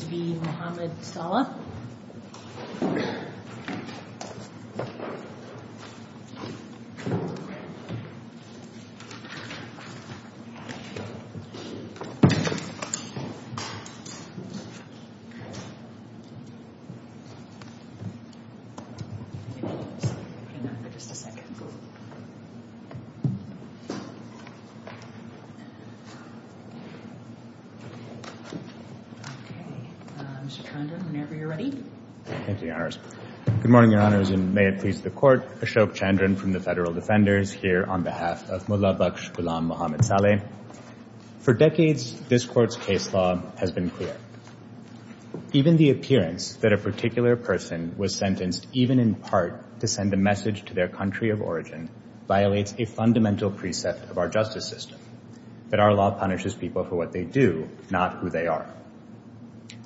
Just one second. Good morning, Your Honors, and may it please the Court, Ashok Chandran from the Federal Defenders here on behalf of Mullah Baksh Ghulam Mohammed Saleh. For decades, this Court's case law has been clear. Even the appearance that a particular person was sentenced, even in part, to send a message to their country of origin, violates a fundamental precept of our justice system, that our law punishes people for what they do, not who they are.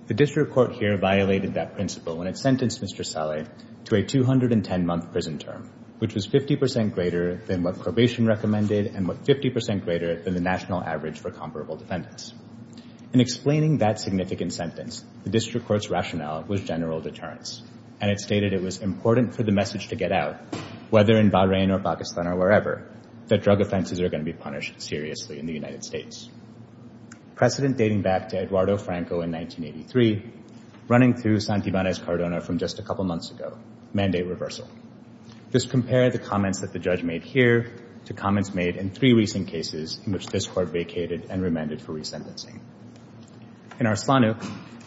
The District Court here violated that principle when it sentenced Mr. Saleh to a 210-month prison term, which was 50% greater than what probation recommended and what 50% greater than the national average for comparable defendants. In explaining that significant sentence, the District Court's rationale was general deterrence, and it stated it was important for the message to get out, whether in Bahrain or Pakistan or wherever, that drug offenses are going to be punished seriously in the United States. Precedent dating back to Eduardo Franco in 1983, running through Santibanez-Cardona from just a couple months ago, mandate reversal. Just compare the comments that the judge made here to comments made in three recent cases in which this Court vacated and remanded for resentencing. In Arslanuk,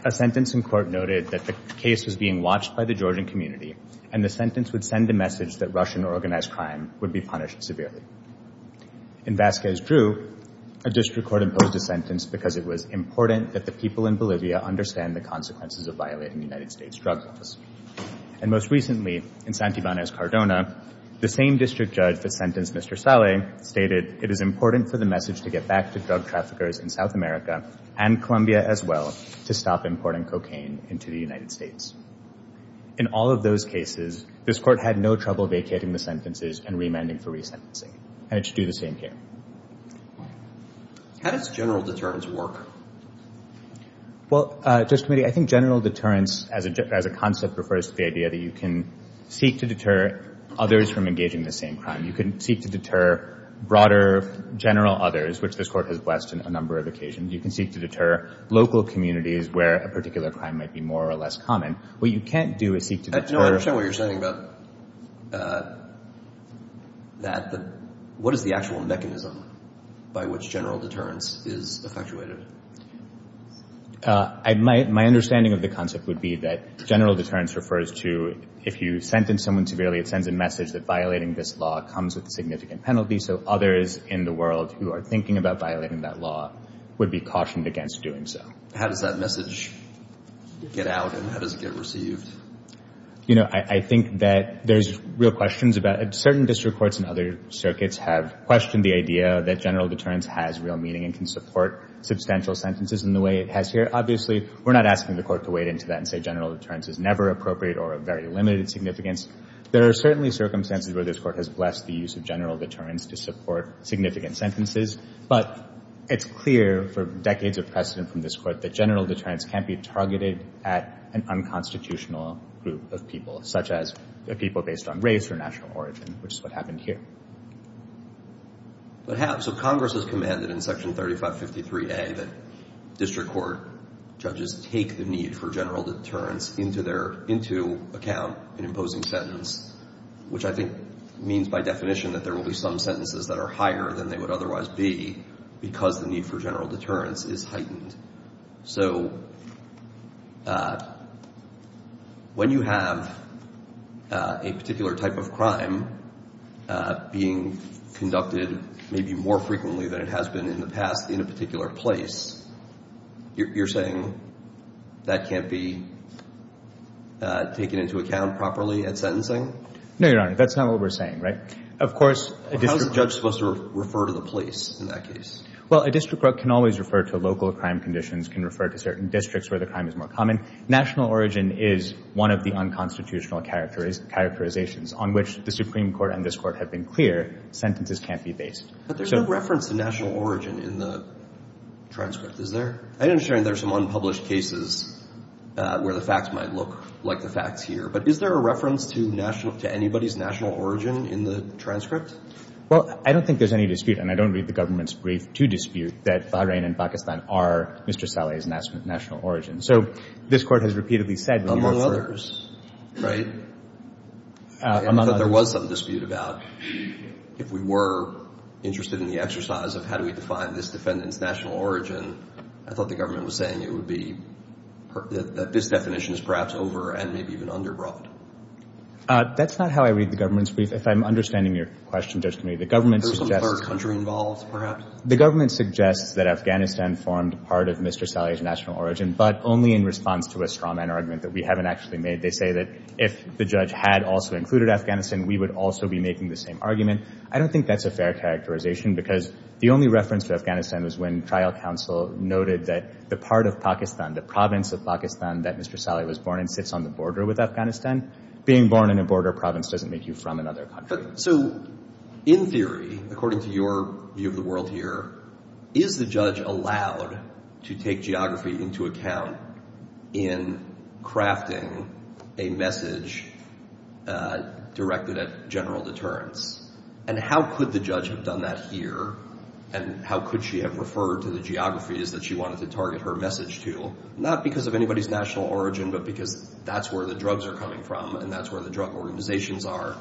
a sentence in court noted that the case was being watched by the Georgian community, and the sentence would send a message that Russian organized crime would be punished severely. In Vasquez Drew, a District Court imposed a sentence because it was important that the people in Bolivia understand the consequences of violating the United States drug laws. And most recently, in Santibanez-Cardona, the same District Judge that sentenced Mr. Saleh stated, it is important for the message to get back to drug traffickers in South America and Colombia as well to stop importing cocaine into the United States. In all of those cases, this Court had no trouble vacating the sentences and remanding for resentencing, and it should do the same here. How does general deterrence work? Well, Judge Committee, I think general deterrence as a concept refers to the idea that you can seek to deter others from engaging in the same crime. You can seek to deter broader general others, which this Court has blessed in a number of occasions. You can seek to deter local communities where a particular crime might be more or less common. What you can't do is seek to deter — No, I understand what you're saying about that, but what is the actual mechanism by which general deterrence is effectuated? My understanding of the concept would be that general deterrence refers to if you sentence someone severely, it sends a message that violating this law comes with a significant penalty, so others in the world who are thinking about violating that law would be cautioned against doing so. How does that message get out and how does it get received? You know, I think that there's real questions about — certain district courts and other circuits have questioned the idea that general deterrence has real meaning and can support substantial sentences in the way it has here. Obviously, we're not asking the Court to wade into that and say general deterrence is never appropriate or of very limited significance. There are certainly circumstances where this Court has blessed the use of general deterrence to support significant sentences, but it's clear for decades of precedent from this Court that general deterrence can't be targeted at an unconstitutional group of people, such as people based on race or national origin, which is what happened here. But have — so Congress has commanded in Section 3553A that district court judges take the need for general deterrence into their — into account in imposing sentence, which I think means by definition that there will be some sentences that are higher than they would otherwise be because the need for general deterrence is heightened. So when you have a particular type of crime being conducted maybe more frequently than it has been in the past in a particular place, you're saying that can't be taken into account properly at sentencing? No, Your Honor. That's not what we're saying, right? Of course — How is a judge supposed to refer to the police in that case? Well, a district court can always refer to local crime conditions, can refer to certain districts where the crime is more common. National origin is one of the unconstitutional characterizations on which the Supreme Court and this Court have been clear. Sentences can't be based. But there's no reference to national origin in the transcript, is there? I understand there are some unpublished cases where the facts might look like the facts here, but is there a reference to national — to anybody's national origin in the transcript? Well, I don't think there's any dispute, and I don't read the government's brief to dispute that Bahrain and Pakistan are Mr. Saleh's national origin. So this Court has repeatedly said that — Among others, right? I thought there was some dispute about, if we were interested in the exercise of how do we define this defendant's national origin, I thought the government was saying it would be — that this definition is perhaps over- and maybe even under-broad. That's not how I read the government's brief. If I'm understanding your question, Judge Kamee, the government suggests — There's some third country involved, perhaps? The government suggests that Afghanistan formed part of Mr. Saleh's national origin, but only in response to a straw-man argument that we haven't actually made. They say that if the judge had also included Afghanistan, we would also be making the same argument. I don't think that's a fair characterization, because the only reference to Afghanistan was when trial counsel noted that the part of Pakistan, the province of Pakistan that Mr. Saleh was born in, sits on the border with Afghanistan. Being born in a border province doesn't make you from another country. So, in theory, according to your view of the world here, is the judge allowed to take geography into account in crafting a message directed at general deterrence? And how could the judge have done that here? And how could she have referred to the geographies that she wanted to target her message to? Not because of anybody's national origin, but because that's where the drugs are coming from, and that's where the drug organizations are.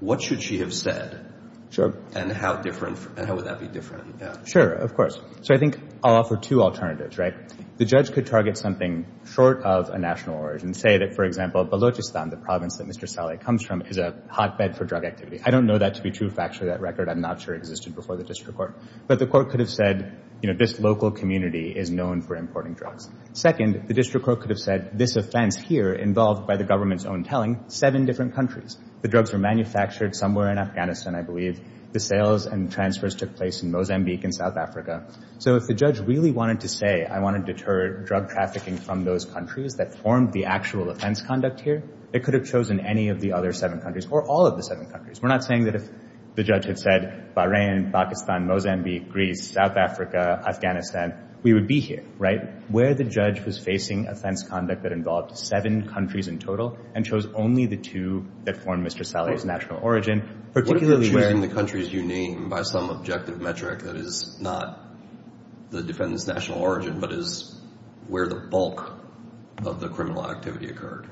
What should she have said? Sure. And how different — and how would that be different? Sure, of course. So I think I'll offer two alternatives, right? The judge could target something short of a national origin, say that, for example, Balochistan, the province that Mr. Saleh comes from, is a hotbed for drug activity. I don't know that to be true. Factually, that record, I'm not sure, existed before the district court. But the court could have said, you know, this local community is known for importing drugs. Second, the district court could have said, this offense here, involved by the government's own telling, seven different countries. The drugs were manufactured somewhere in Afghanistan, I believe. The sales and transfers took place in Mozambique and South Africa. So if the judge really wanted to say, I want to deter drug trafficking from those countries that formed the actual offense conduct here, it could have chosen any of the other seven countries, or all of the seven countries. We're not saying that if the judge had said, Bahrain, Pakistan, Mozambique, Greece, South Africa, Afghanistan, we would be here, right? Where the judge was facing offense conduct that involved seven countries in total, and chose only the two that form Mr. Saleh's national origin, particularly where… What if you're choosing the countries you name by some objective metric that is not the defendant's national origin, but is where the bulk of the criminal activity occurred?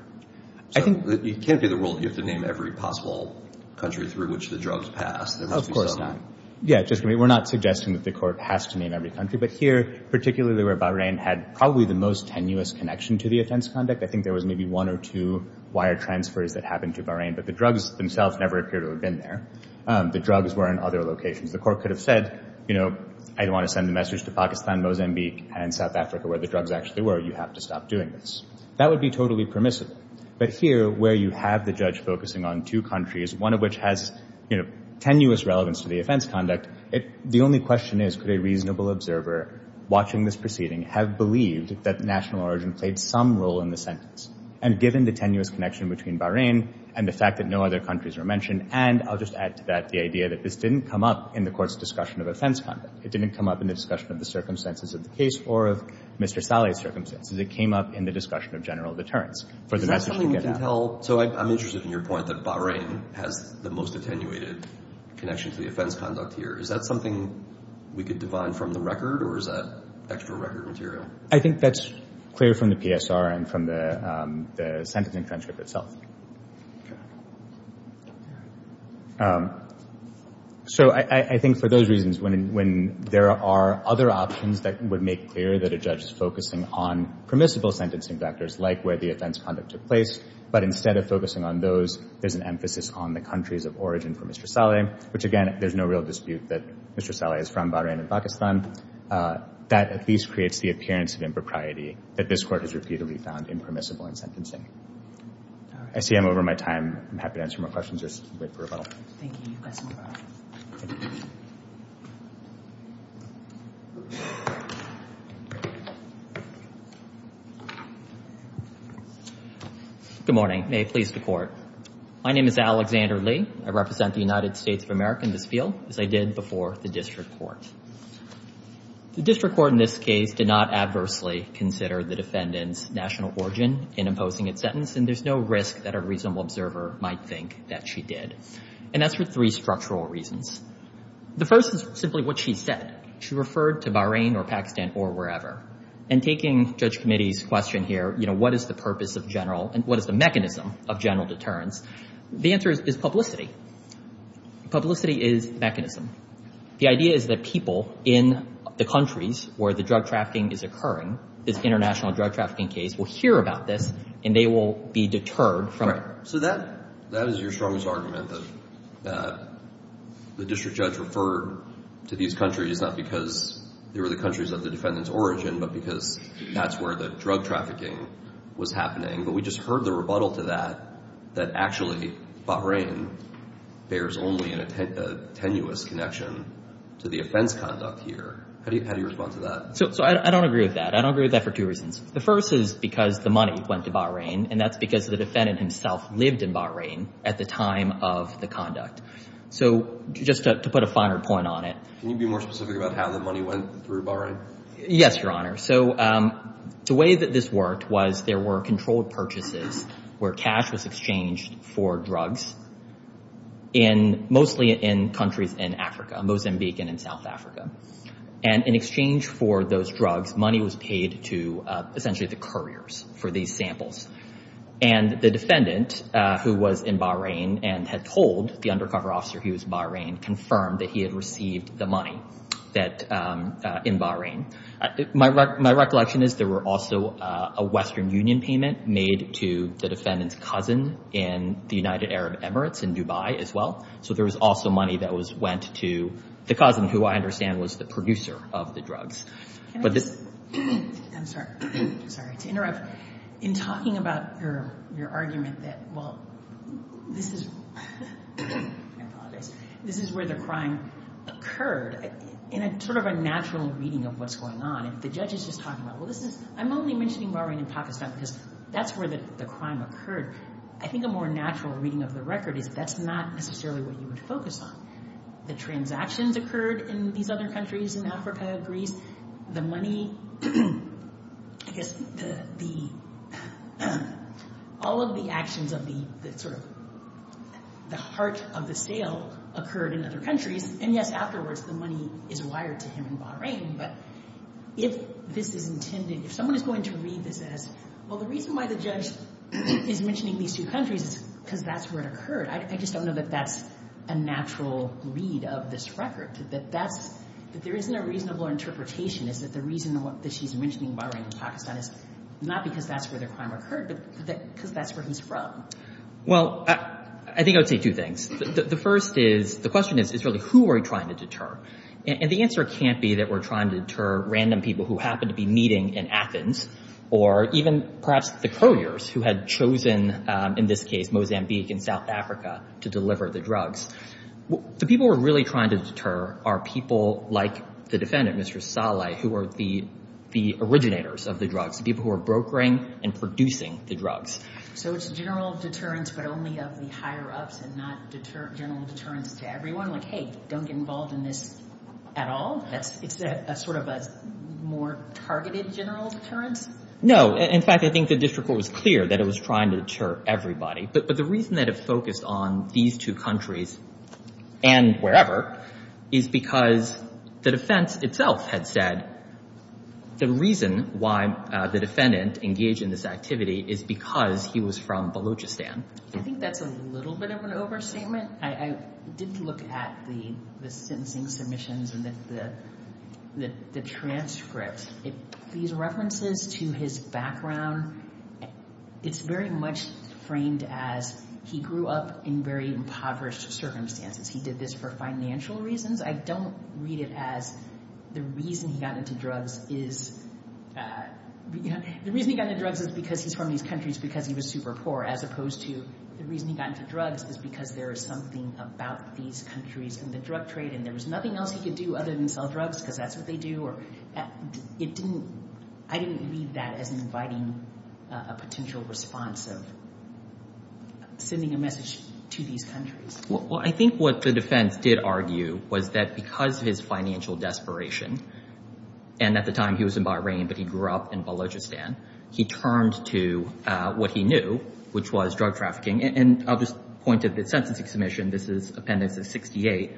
I think… So it can't be the rule that you have to name every possible country through which the drugs pass. There must be some… Of course not. Yeah, we're not suggesting that the court has to name every country. But here, particularly where Bahrain had probably the most tenuous connection to the offense conduct, I think there was maybe one or two wire transfers that happened to Bahrain. But the drugs themselves never appear to have been there. The drugs were in other locations. The court could have said, you know, I don't want to send the message to Pakistan, Mozambique, and South Africa, where the drugs actually were. You have to stop doing this. That would be totally permissible. But here, where you have the judge focusing on two countries, one of which has, you know, tenuous relevance to the offense conduct, the only question is, could a reasonable observer watching this proceeding have believed that the national origin played some role in the sentence? And given the tenuous connection between Bahrain and the fact that no other countries were mentioned, and I'll just add to that the idea that this didn't come up in the court's discussion of offense conduct. It didn't come up in the discussion of the circumstances of the case or of Mr. Saleh's circumstances. It came up in the discussion of general deterrence. So I'm interested in your point that Bahrain has the most attenuated connection to the offense conduct here. Is that something we could divide from the record, or is that extra record material? I think that's clear from the PSR and from the sentencing transcript itself. So I think for those reasons, when there are other options that would make clear that a judge is focusing on permissible sentencing factors, like where the offense conduct took place, but instead of focusing on those, there's an emphasis on the countries of origin for Mr. Saleh, which again, there's no real dispute that Mr. Saleh is from Bahrain and Pakistan. That at least creates the appearance of impropriety that this court has repeatedly found impermissible in sentencing. I see I'm over my time. I'm happy to answer more questions or wait for a rebuttal. Thank you. You've got some more questions. Good morning. May it please the court. My name is Alexander Lee. I represent the United States of America in this field, as I did before the district court. The district court in this case did not adversely consider the defendant's national origin in imposing its sentence, and there's no risk that a reasonable observer might think that she did. And that's for three structural reasons. The first is simply what she said. She referred to Bahrain or Pakistan or wherever. And taking Judge Committee's question here, what is the purpose of general and what is mechanism? The idea is that people in the countries where the drug trafficking is occurring, this international drug trafficking case, will hear about this and they will be deterred from it. So that is your strongest argument, that the district judge referred to these countries not because they were the countries of the defendant's origin, but because that's where the drug trafficking was happening. But we just heard the rebuttal to that, that actually Bahrain bears only a tenuous connection to the offense conduct here. How do you respond to that? So I don't agree with that. I don't agree with that for two reasons. The first is because the money went to Bahrain, and that's because the defendant himself lived in Bahrain at the time of the conduct. So just to put a finer point on it. Can you be more specific about how the money went through Bahrain? Yes, Your Honor. So the way that this was there were controlled purchases where cash was exchanged for drugs in mostly in countries in Africa, Mozambique and in South Africa. And in exchange for those drugs, money was paid to essentially the couriers for these samples. And the defendant, who was in Bahrain and had told the undercover officer he was in Bahrain, confirmed that he had received the money in Bahrain. My recollection is there were also a Western Union payment made to the defendant's cousin in the United Arab Emirates in Dubai as well. So there was also money that went to the cousin, who I understand was the producer of the drugs. I'm sorry to interrupt. In talking about your argument that, well, this is where the crime occurred, in a sort of a natural reading of what's going on, if the judge is just talking about, well, I'm only mentioning Bahrain and Pakistan because that's where the crime occurred. I think a more natural reading of the record is that's not necessarily what you would focus on. The transactions occurred in these other countries in Africa, Greece. The money, I guess, all of the actions of the sort of the heart of the sale occurred in other countries. And yes, afterwards the money is wired to him in Bahrain. But if this is intended, if someone is going to read this as, well, the reason why the judge is mentioning these two countries is because that's where it occurred. I just don't know that that's a natural read of this record, that that's, that there isn't a reasonable interpretation is that the reason that she's mentioning Bahrain and Pakistan is not because that's where the crime occurred, but because that's where he's from. Well, I think I would say two things. The first is, the question is, is really who are we trying to deter? And the answer can't be that we're trying to deter random people who happen to be meeting in Athens or even perhaps the couriers who had chosen, in this case, Mozambique and South Africa to deliver the drugs. The people we're really trying to deter are people like the defendant, Mr. Saleh, who are the originators of the drugs, the people who are brokering and producing the drugs. So it's general deterrence, but only of the higher-ups and not general deterrence to everyone? Like, hey, don't get involved in this at all? It's a sort of a more targeted general deterrence? No. In fact, I think the district court was clear that it was trying to deter everybody. But the reason that it focused on these two countries and wherever is because the defense itself had said the reason why the defendant engaged in this activity is because he was from Balochistan. I think that's a little bit of an overstatement. I did look at the sentencing submissions and the transcripts. These references to his background, it's very much framed as he grew up in very impoverished circumstances. He did this for financial reasons. I don't read it as the reason he got into drugs is because he's from these countries because he was super poor, as opposed to the reason he got into drugs is because there is something about these countries and the drug trade, and there was nothing else he could do other than sell drugs because that's what they do. I didn't read that as inviting a potential response of sending a message to these countries. Well, I think what the defense did argue was that because of his desperation, and at the time he was in Bahrain, but he grew up in Balochistan, he turned to what he knew, which was drug trafficking. I'll just point to the sentencing submission. This is Appendix 68.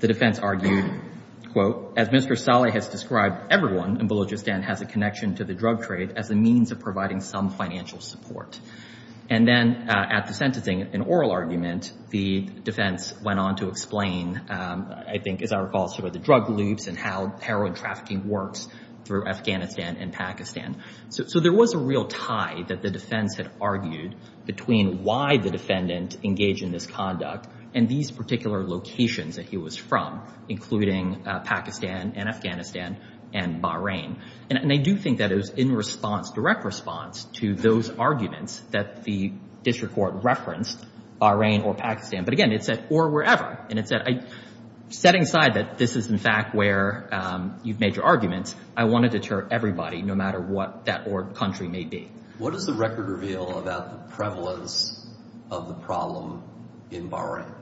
The defense argued, quote, as Mr. Saleh has described, everyone in Balochistan has a connection to the drug trade as a means of providing some financial support. And then at the sentencing, an oral argument, the defense went on to explain, I think, as I recall, sort of the drug loops and how heroin trafficking works through Afghanistan and Pakistan. So there was a real tie that the defense had argued between why the defendant engaged in this conduct and these particular locations that he was from, including Pakistan and Afghanistan and Bahrain. And I do think that it was in response, direct response, to those arguments that the district court referenced, Bahrain or Pakistan, or wherever. And it said, setting aside that this is, in fact, where you've made your arguments, I want to deter everybody, no matter what that country may be. What does the record reveal about the prevalence of the problem in Bahrain?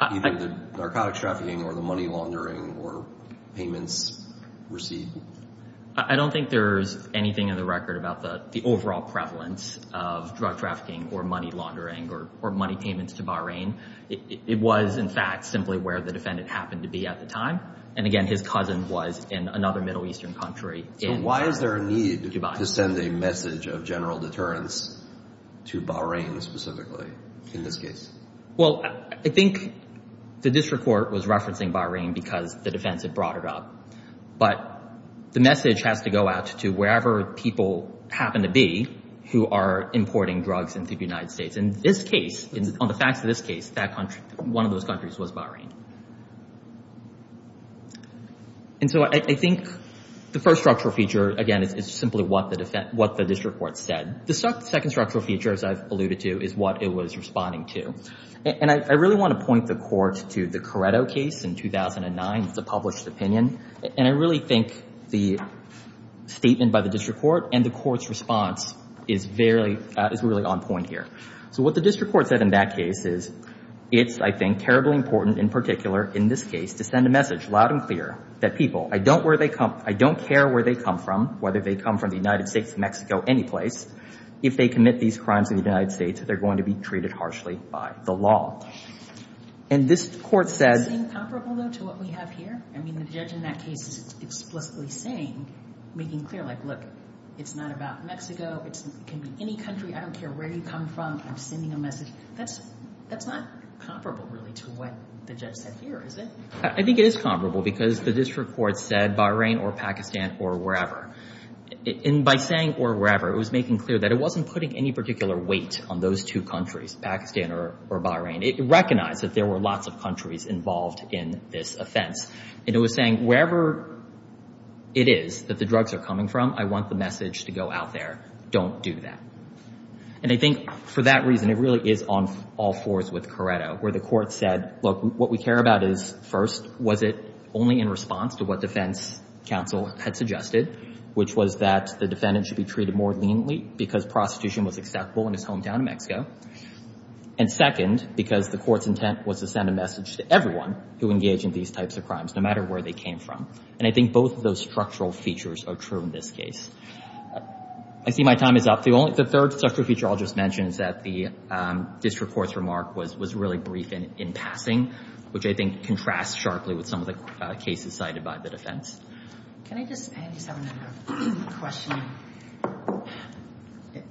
Either the narcotic trafficking or the money laundering or payments received? I don't think there's anything in the record about the overall prevalence of drug trafficking or money laundering or money payments to Bahrain. It was, in fact, simply where the defendant happened to be at the time. And again, his cousin was in another Middle Eastern country. So why is there a need to send a message of general deterrence to Bahrain specifically, in this case? Well, I think the district court was referencing Bahrain because the defense had brought it up. But the message has to go out to wherever people happen to be who are importing drugs into the United States. And on the facts of this case, one of those countries was Bahrain. And so I think the first structural feature, again, is simply what the district court said. The second structural feature, as I've alluded to, is what it was responding to. And I really want to point the court to the Coretto case in 2009, the published opinion. And I really think the statement by the district court and the court's response is really on point here. So what the district court said in that case is, it's, I think, terribly important, in particular, in this case, to send a message loud and clear that people, I don't care where they come from, whether they come from the United States, Mexico, any place, if they commit these crimes in the United States, they're going to be treated harshly by the law. And this court said— Does it seem comparable, though, to what we have here? I mean, the judge in that case is explicitly saying, making clear, like, look, it's not about Mexico. It can be any country. I don't care where you come from. I'm sending a message. That's not comparable, really, to what the judge said here, is it? I think it is comparable because the district court said Bahrain or Pakistan or wherever. And by saying or wherever, it was making clear that it wasn't putting any particular weight on those two countries, Pakistan or Bahrain. It recognized that there were lots of countries involved in this offense. And it was saying, wherever it is that the drugs are coming from, I want the message to go out there. Don't do that. And I think for that reason, it really is on all fours with Corretto, where the court said, look, what we care about is, first, was it only in response to what defense counsel had suggested, which was that the defendant should be treated more leniently because prostitution was acceptable in his hometown of Mexico? And second, because the court's intent was to send a message to everyone who engaged in these types of crimes, no matter where they came from. And I think both of those structural features are true in this case. I see my time is up. The third structural feature I'll just mention is that the district court's remark was really brief in passing, which I think contrasts sharply with some of the cases cited by the defense. Can I just add a question?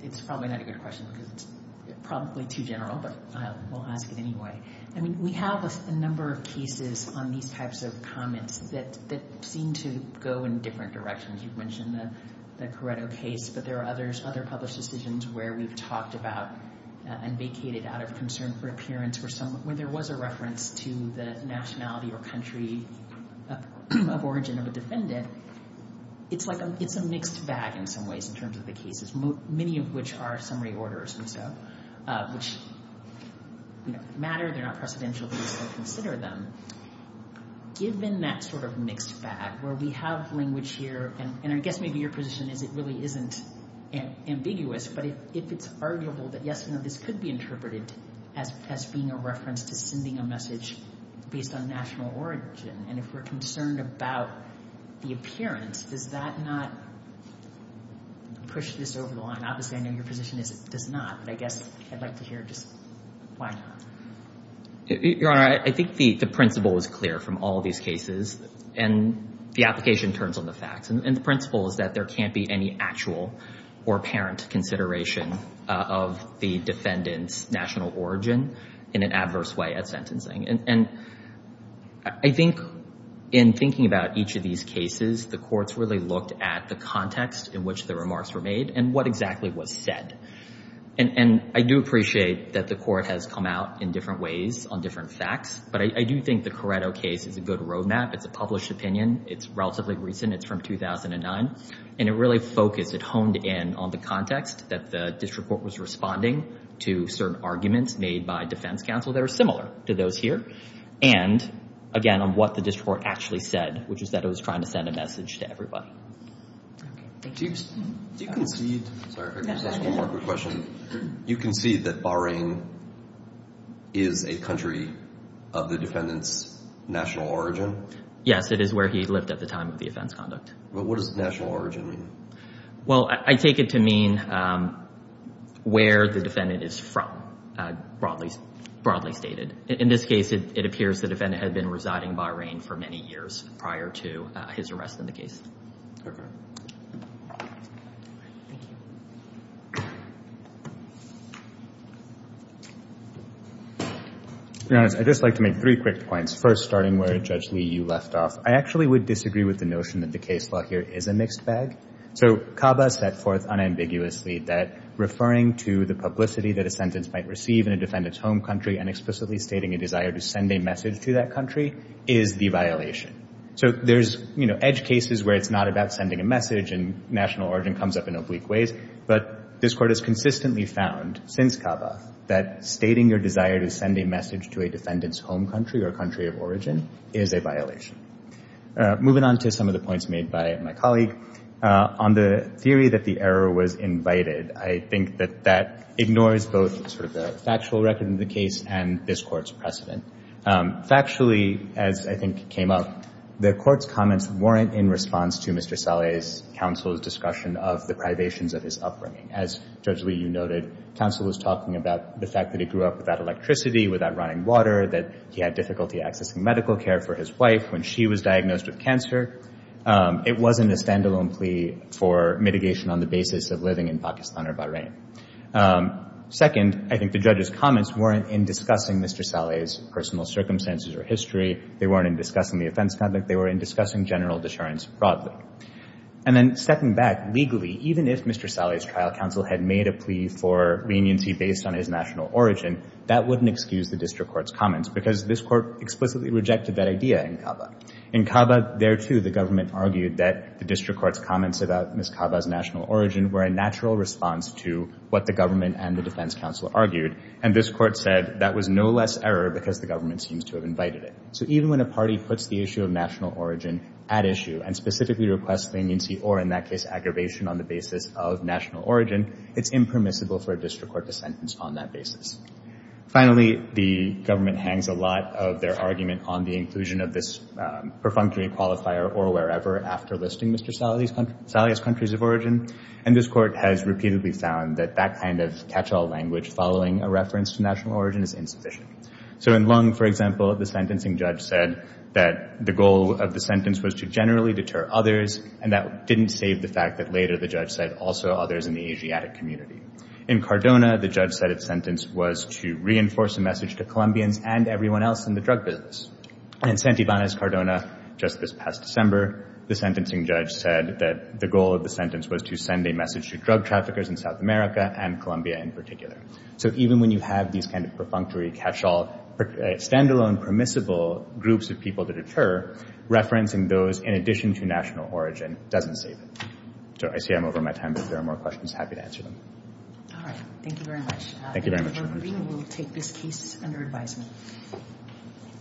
It's probably not a good question because it's probably too general, but I will ask it anyway. I mean, we have a number of cases on these types of comments that seem to go in different directions. You've mentioned the Corretto case, but there are other published decisions where we've talked about and vacated out of concern for appearance where there was a reference to the nationality or country of origin of a defendant. It's a mixed bag in some ways in terms of the cases, many of which are summary orders and so, which matter, they're not precedential, but we still consider them. Given that sort of mixed bag where we have language here, and I guess maybe your position is it really isn't ambiguous, but if it's arguable that yes, this could be interpreted as being a reference to sending a message based on national origin, and if we're concerned about the appearance, does that not push this over the line? Obviously, I know your position is it does not, but I guess I'd like to hear just why not. Your Honor, I think the principle is clear from all of these cases, and the application turns on the facts. The principle is that there can't be any actual or apparent consideration of the defendant's national origin in an adverse way at sentencing. I think in thinking about each of these cases, the courts really looked at the context in which the remarks were made and what exactly was said. I do appreciate that the court has come out in different ways on different facts, but I do think the Corretto case is a good roadmap. It's a published opinion. It's relatively recent. It's from 2009, and it really focused. It honed in on the context that the district court was responding to certain arguments made by defense counsel that are similar to those here, and again, on what the district court actually said, which is that it was trying to send a message to everybody. Okay. Do you concede... Sorry, if I could just ask one more quick question. Do you concede that Bahrain is a country of the defendant's national origin? Yes, it is where he lived at the time of the offense conduct. But what does national origin mean? Well, I take it to mean where the defendant is from, broadly stated. In this case, it appears the defendant had been residing in Bahrain for many years prior to his arrest in the case. Okay. To be honest, I'd just like to make three quick points, first starting where Judge Lee, you left off. I actually would disagree with the notion that the case law here is a mixed bag. So CABA set forth unambiguously that referring to the publicity that a sentence might receive in a defendant's home country and explicitly stating a desire to send a message to that country is the violation. So there's edge cases where it's not about sending a message and national origin comes up in oblique ways. But this Court has consistently found, since CABA, that stating your desire to send a message to a defendant's home country or country of origin is a violation. Moving on to some of the points made by my colleague, on the theory that the error was invited, I think that that ignores both the factual record in the case and this Court's precedent. Factually, as I think came up, the Court's comments weren't in response to Mr. Saleh's counsel's discussion of the privations of his upbringing. As Judge Lee, you noted, counsel was talking about the fact that he grew up without electricity, without running water, that he had difficulty accessing medical care for his wife when she was diagnosed with cancer. It wasn't a standalone plea for mitigation on the basis of living in Pakistan or Bahrain. Second, I think the judge's comments weren't in discussing Mr. Saleh's personal circumstances or history. They weren't in discussing the offense conduct. They were in discussing general deterrence broadly. And then, stepping back, legally, even if Mr. Saleh's trial counsel had made a plea for leniency based on his national origin, that wouldn't excuse the District Court's comments because this Court explicitly rejected that idea in CABA. In CABA, there too, the government argued that the District Court's comments about Ms. CABA's national origin were a natural response to what the government and the defense counsel argued. And this Court said that was no less error because the government seems to have invited it. So even when a party puts the issue of national origin at issue and specifically requests leniency or, in that case, aggravation on the basis of national origin, it's impermissible for a District Court to sentence on that basis. Finally, the government hangs a lot of their argument on the inclusion of this perfunctory qualifier or wherever after listing Mr. Saleh's countries of origin. And this Court has repeatedly found that that kind of catch-all language following a reference to national origin is insufficient. So in Lung, for example, the sentencing judge said that the goal of the sentence was to generally deter others, and that didn't save the fact that later the judge said also others in the Asiatic community. In Cardona, the judge said its sentence was to reinforce a message to Colombians and everyone else in the drug business. In Santibanez, Cardona, just this past December, the sentencing judge said that the goal of the sentence was to send a message to drug traffickers in South America and Colombia in particular. So even when you have these kind of perfunctory catch-all, standalone permissible groups of people to deter, referencing those in addition to national origin doesn't save it. So I see I'm over my time, but if there are more questions, happy to answer them. All right. Thank you very much. Thank you very much, Your Honor. We will take this case under advisement.